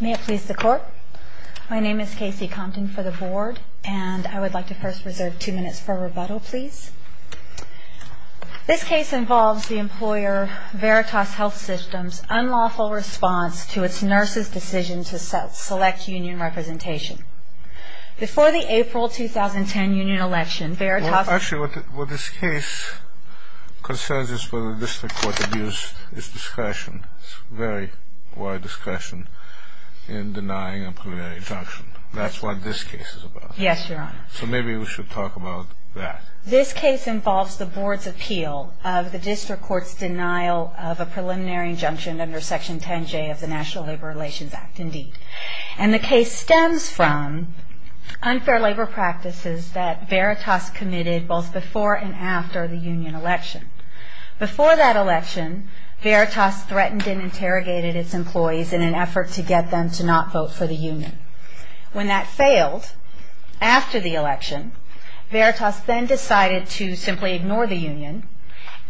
May it please the court. My name is Casey Compton for the board and I would like to first reserve two minutes for rebuttal, please. This case involves the employer Veritas Health Systems' unlawful response to its nurses' decision to select union representation. Before the April 2010 union election, Veritas... in denying a preliminary injunction. That's what this case is about. Yes, Your Honor. So maybe we should talk about that. This case involves the board's appeal of the district court's denial of a preliminary injunction under Section 10J of the National Labor Relations Act, indeed. And the case stems from unfair labor practices that Veritas committed both before and after the union election. Before that election, Veritas threatened and interrogated its employees in an effort to get them to not vote for the union. When that failed, after the election, Veritas then decided to simply ignore the union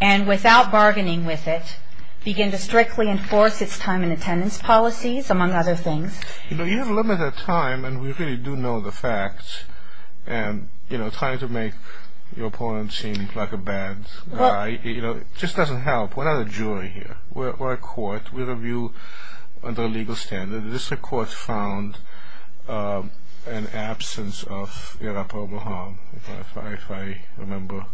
and, without bargaining with it, begin to strictly enforce its time and attendance policies, among other things. You know, you have a limited time and we really do know the facts. And, you know, trying to make your opponent seem like a bad guy, you know, just doesn't help. We're not a jury here. We're a court. We review under a legal standard. The district court found an absence of irreparable harm, if I remember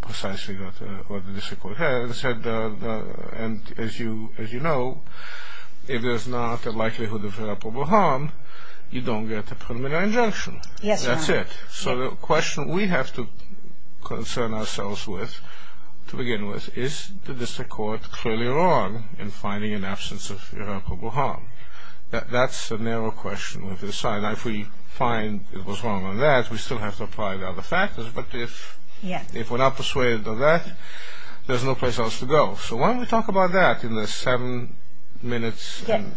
precisely what the district court has said. And, as you know, if there's not a likelihood of irreparable harm, you don't get a preliminary injunction. That's it. So the question we have to concern ourselves with, to begin with, is the district court clearly wrong in finding an absence of irreparable harm? That's a narrow question we have to decide. If we find it was wrong on that, we still have to apply the other factors. But if we're not persuaded of that, there's no place else to go. So why don't we talk about that in the seven minutes and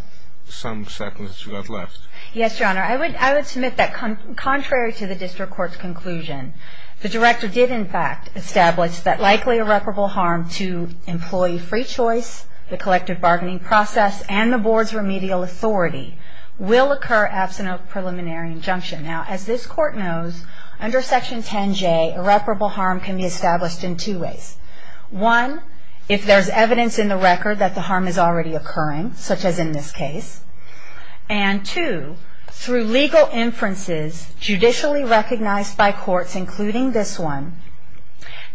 some seconds that you've got left. Yes, Your Honor. I would submit that contrary to the district court's conclusion, the director did, in fact, establish that likely irreparable harm to employee free choice, the collective bargaining process, and the board's remedial authority will occur absent a preliminary injunction. Now, as this court knows, under Section 10J, irreparable harm can be established in two ways. One, if there's evidence in the record that the harm is already occurring, such as in this case. And two, through legal inferences, judicially recognized by courts, including this one,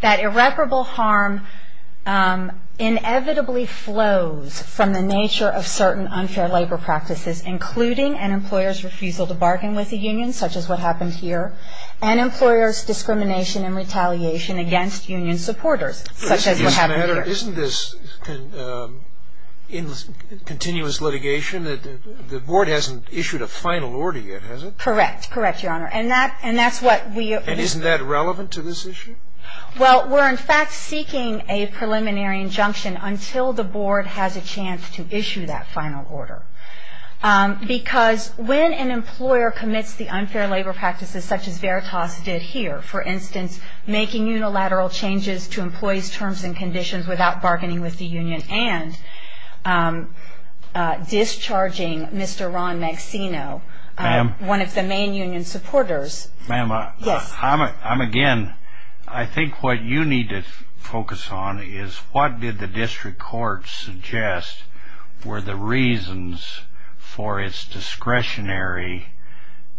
that irreparable harm inevitably flows from the nature of certain unfair labor practices, including an employer's refusal to bargain with the union, such as what happened here, and employer's discrimination and retaliation against union supporters, such as what happened here. Isn't this continuous litigation? The board hasn't issued a final order yet, has it? Correct. Correct, Your Honor. And that's what we... And isn't that relevant to this issue? Well, we're in fact seeking a preliminary injunction until the board has a chance to issue that final order. Because when an employer commits the unfair labor practices, such as Veritas did here, for instance, making unilateral changes to employees' terms and conditions without bargaining with the union, and discharging Mr. Ron Maxino, one of the main union supporters... Ma'am, I'm again... I think what you need to focus on is, what did the district court suggest were the reasons for its discretionary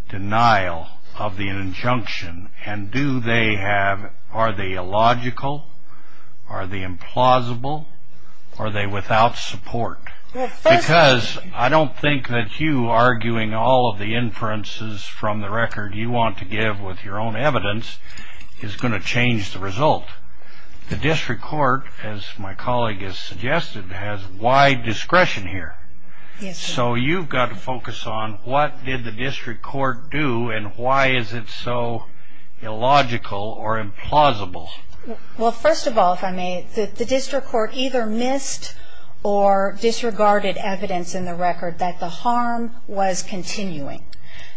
denial of the injunction? And do they have... Are they illogical? Are they implausible? Are they without support? Because I don't think that you arguing all of the inferences from the record you want to give with your own evidence is going to change the result. The district court, as my colleague has suggested, has wide discretion here. So you've got to focus on, what did the district court do, and why is it so illogical or implausible? Well, first of all, if I may, the district court either missed or disregarded evidence in the record that the harm was continuing.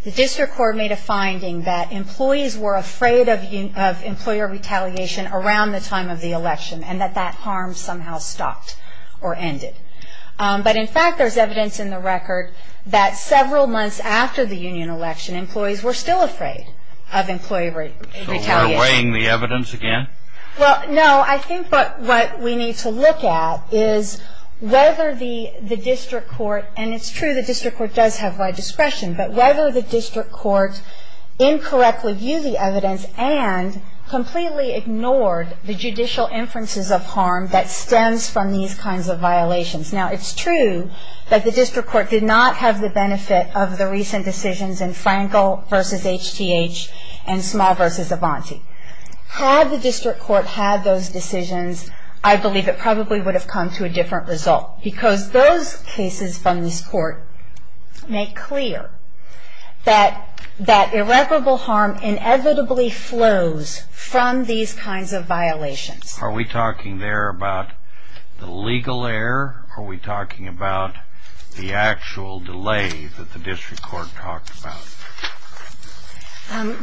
The district court made a finding that employees were afraid of employer retaliation around the time of the election, and that that harm somehow stopped or ended. But, in fact, there's evidence in the record that several months after the union election, employees were still afraid of employer retaliation. So we're weighing the evidence again? Well, no. I think what we need to look at is whether the district court... ...incorrectly viewed the evidence and completely ignored the judicial inferences of harm that stems from these kinds of violations. Now, it's true that the district court did not have the benefit of the recent decisions in Frankel v. HTH and Small v. Avanti. Had the district court had those decisions, I believe it probably would have come to a different result. Because those cases from this court make clear that irreparable harm inevitably flows from these kinds of violations. Are we talking there about the legal error? Are we talking about the actual delay that the district court talked about?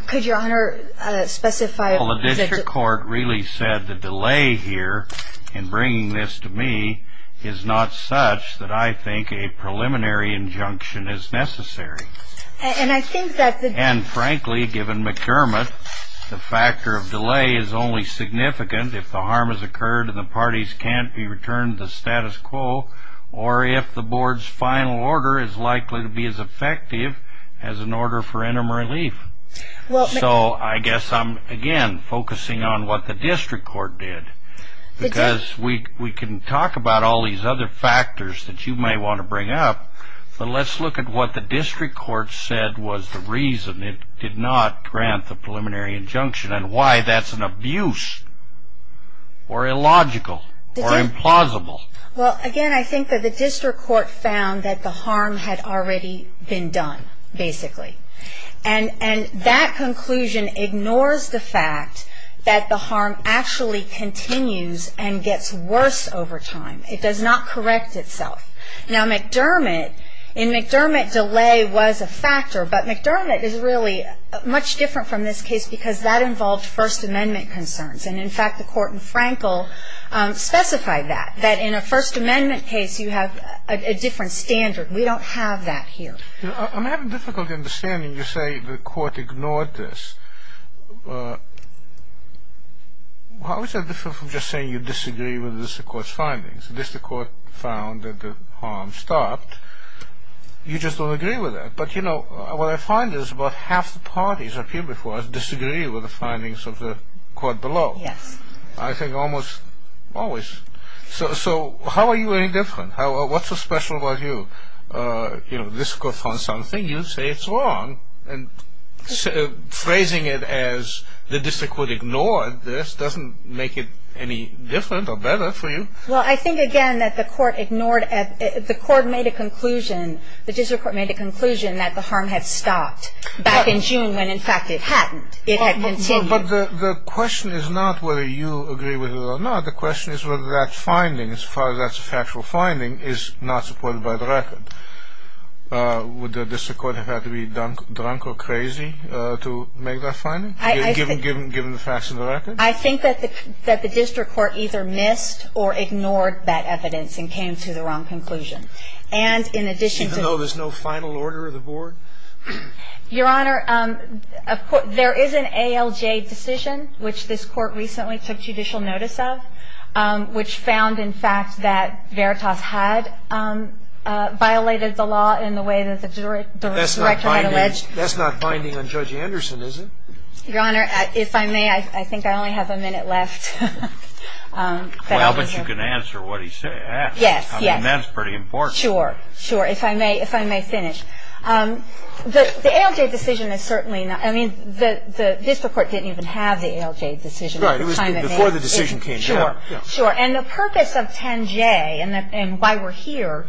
Could Your Honor specify... The district court really said the delay here in bringing this to me is not such that I think a preliminary injunction is necessary. And I think that the... And, frankly, given McDermott, the factor of delay is only significant if the harm has occurred and the parties can't be returned to the status quo, or if the board's final order is likely to be as effective as an order for interim relief. So I guess I'm, again, focusing on what the district court did. Because we can talk about all these other factors that you may want to bring up, but let's look at what the district court said was the reason it did not grant the preliminary injunction, and why that's an abuse, or illogical, or implausible. Well, again, I think that the district court found that the harm had already been done, basically. And that conclusion ignores the fact that the harm actually continues and gets worse over time. It does not correct itself. Now, McDermott, in McDermott, delay was a factor, but McDermott is really much different from this case because that involved First Amendment concerns. And, in fact, the court in Frankel specified that, that in a First Amendment case, you have a different standard. We don't have that here. I'm having difficulty understanding you say the court ignored this. How is that different from just saying you disagree with the district court's findings? The district court found that the harm stopped. You just don't agree with that. But, you know, what I find is about half the parties up here before us disagree with the findings of the court below. Yes. I think almost always. So how are you any different? What's so special about you? You know, this court found something. You say it's wrong. And phrasing it as the district court ignored this doesn't make it any different or better for you. Well, I think, again, that the court ignored. The court made a conclusion. The district court made a conclusion that the harm had stopped back in June when, in fact, it hadn't. It had continued. But the question is not whether you agree with it or not. The question is whether that finding, as far as that's a factual finding, is not supported by the record. Would the district court have had to be drunk or crazy to make that finding, given the facts of the record? I think that the district court either missed or ignored that evidence and came to the wrong conclusion. And in addition to the ---- Even though there's no final order of the board? Your Honor, there is an ALJ decision, which this court recently took judicial notice of. Which found, in fact, that Veritas had violated the law in the way that the director had alleged. That's not binding on Judge Anderson, is it? Your Honor, if I may, I think I only have a minute left. Well, but you can answer what he asked. Yes, yes. I mean, that's pretty important. Sure. Sure. If I may finish. The ALJ decision is certainly not ---- I mean, the district court didn't even have the ALJ decision. Right. It was before the decision came down. Sure. Sure. And the purpose of 10J and why we're here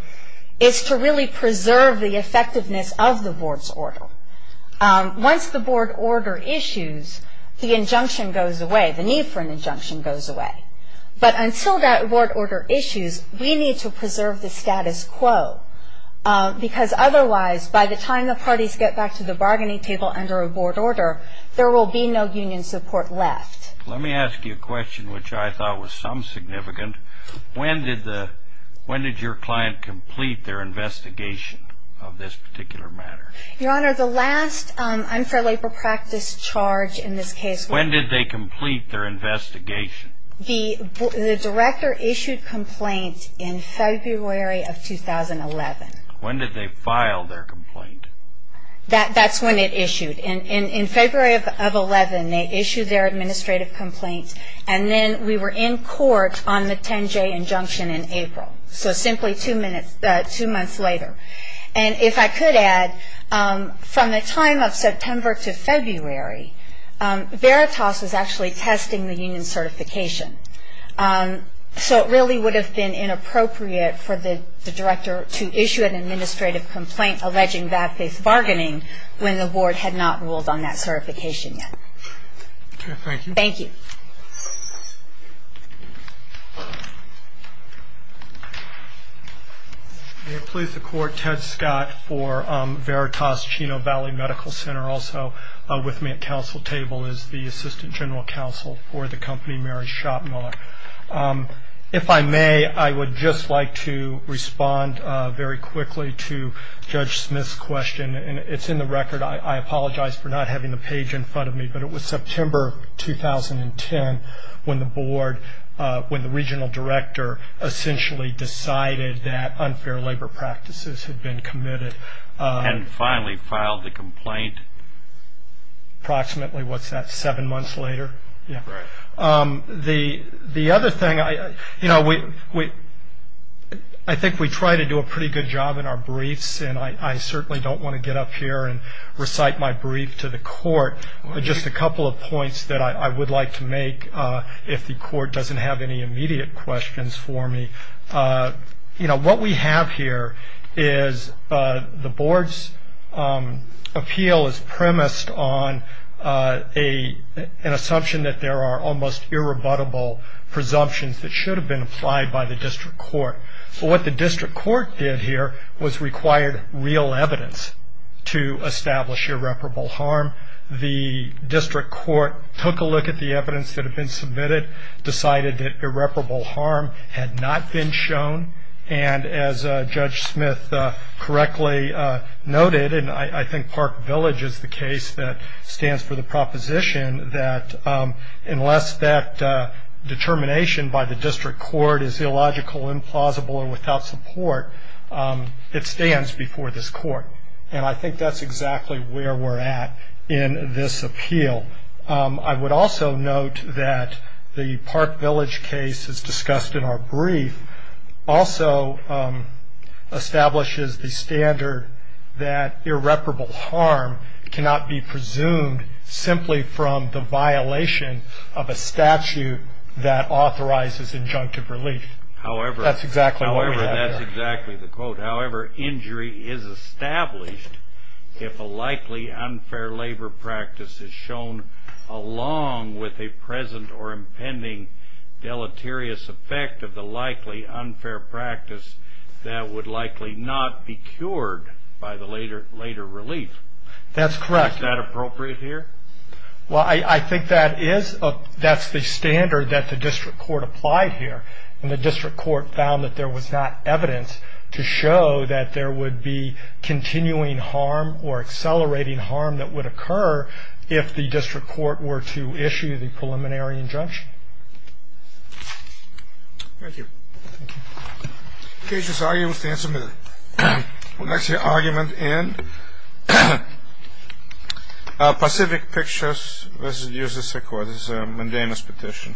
is to really preserve the effectiveness of the board's order. Once the board order issues, the injunction goes away. The need for an injunction goes away. But until that board order issues, we need to preserve the status quo. Because otherwise, by the time the parties get back to the bargaining table under a board order, there will be no union support left. Let me ask you a question which I thought was some significant. When did the ---- when did your client complete their investigation of this particular matter? Your Honor, the last unfair labor practice charge in this case ---- When did they complete their investigation? The director issued complaint in February of 2011. When did they file their complaint? That's when it issued. In February of 2011, they issued their administrative complaint. And then we were in court on the 10J injunction in April. So simply two months later. And if I could add, from the time of September to February, Veritas was actually testing the union certification. So it really would have been inappropriate for the director to issue an administrative complaint alleging bad faith bargaining when the board had not ruled on that certification yet. Thank you. Thank you. May it please the Court, Ted Scott for Veritas Chino Valley Medical Center. Also with me at council table is the assistant general counsel for the company, Mary Schottmuller. If I may, I would just like to respond very quickly to Judge Smith's question. And it's in the record. I apologize for not having the page in front of me. But it was September of 2010 when the board, when the regional director, essentially decided that unfair labor practices had been committed. And finally filed the complaint. Approximately, what's that, seven months later? Yeah. Right. The other thing, you know, I think we try to do a pretty good job in our briefs. And I certainly don't want to get up here and recite my brief to the court. Just a couple of points that I would like to make if the court doesn't have any immediate questions for me. You know, what we have here is the board's appeal is premised on an assumption that there are almost irrebuttable presumptions that should have been applied by the district court. What the district court did here was required real evidence to establish irreparable harm. The district court took a look at the evidence that had been submitted, decided that irreparable harm had not been shown. And as Judge Smith correctly noted, and I think Park Village is the case that stands for the proposition that unless that determination by the district court is illogical, implausible, or without support, it stands before this court. And I think that's exactly where we're at in this appeal. I would also note that the Park Village case as discussed in our brief also establishes the standard that irreparable harm cannot be presumed simply from the violation of a statute that authorizes injunctive relief. That's exactly what we have here. That's exactly the quote. However, injury is established if a likely unfair labor practice is shown, along with a present or impending deleterious effect of the likely unfair practice that would likely not be cured by the later relief. That's correct. Is that appropriate here? Well, I think that is. That's the standard that the district court applied here. And the district court found that there was not evidence to show that there would be continuing harm or accelerating harm that would occur if the district court were to issue the preliminary injunction. Thank you. Thank you. The case's argument stands submitted. The next argument in Pacific Pictures. Let's use this record. This is a mundane petition.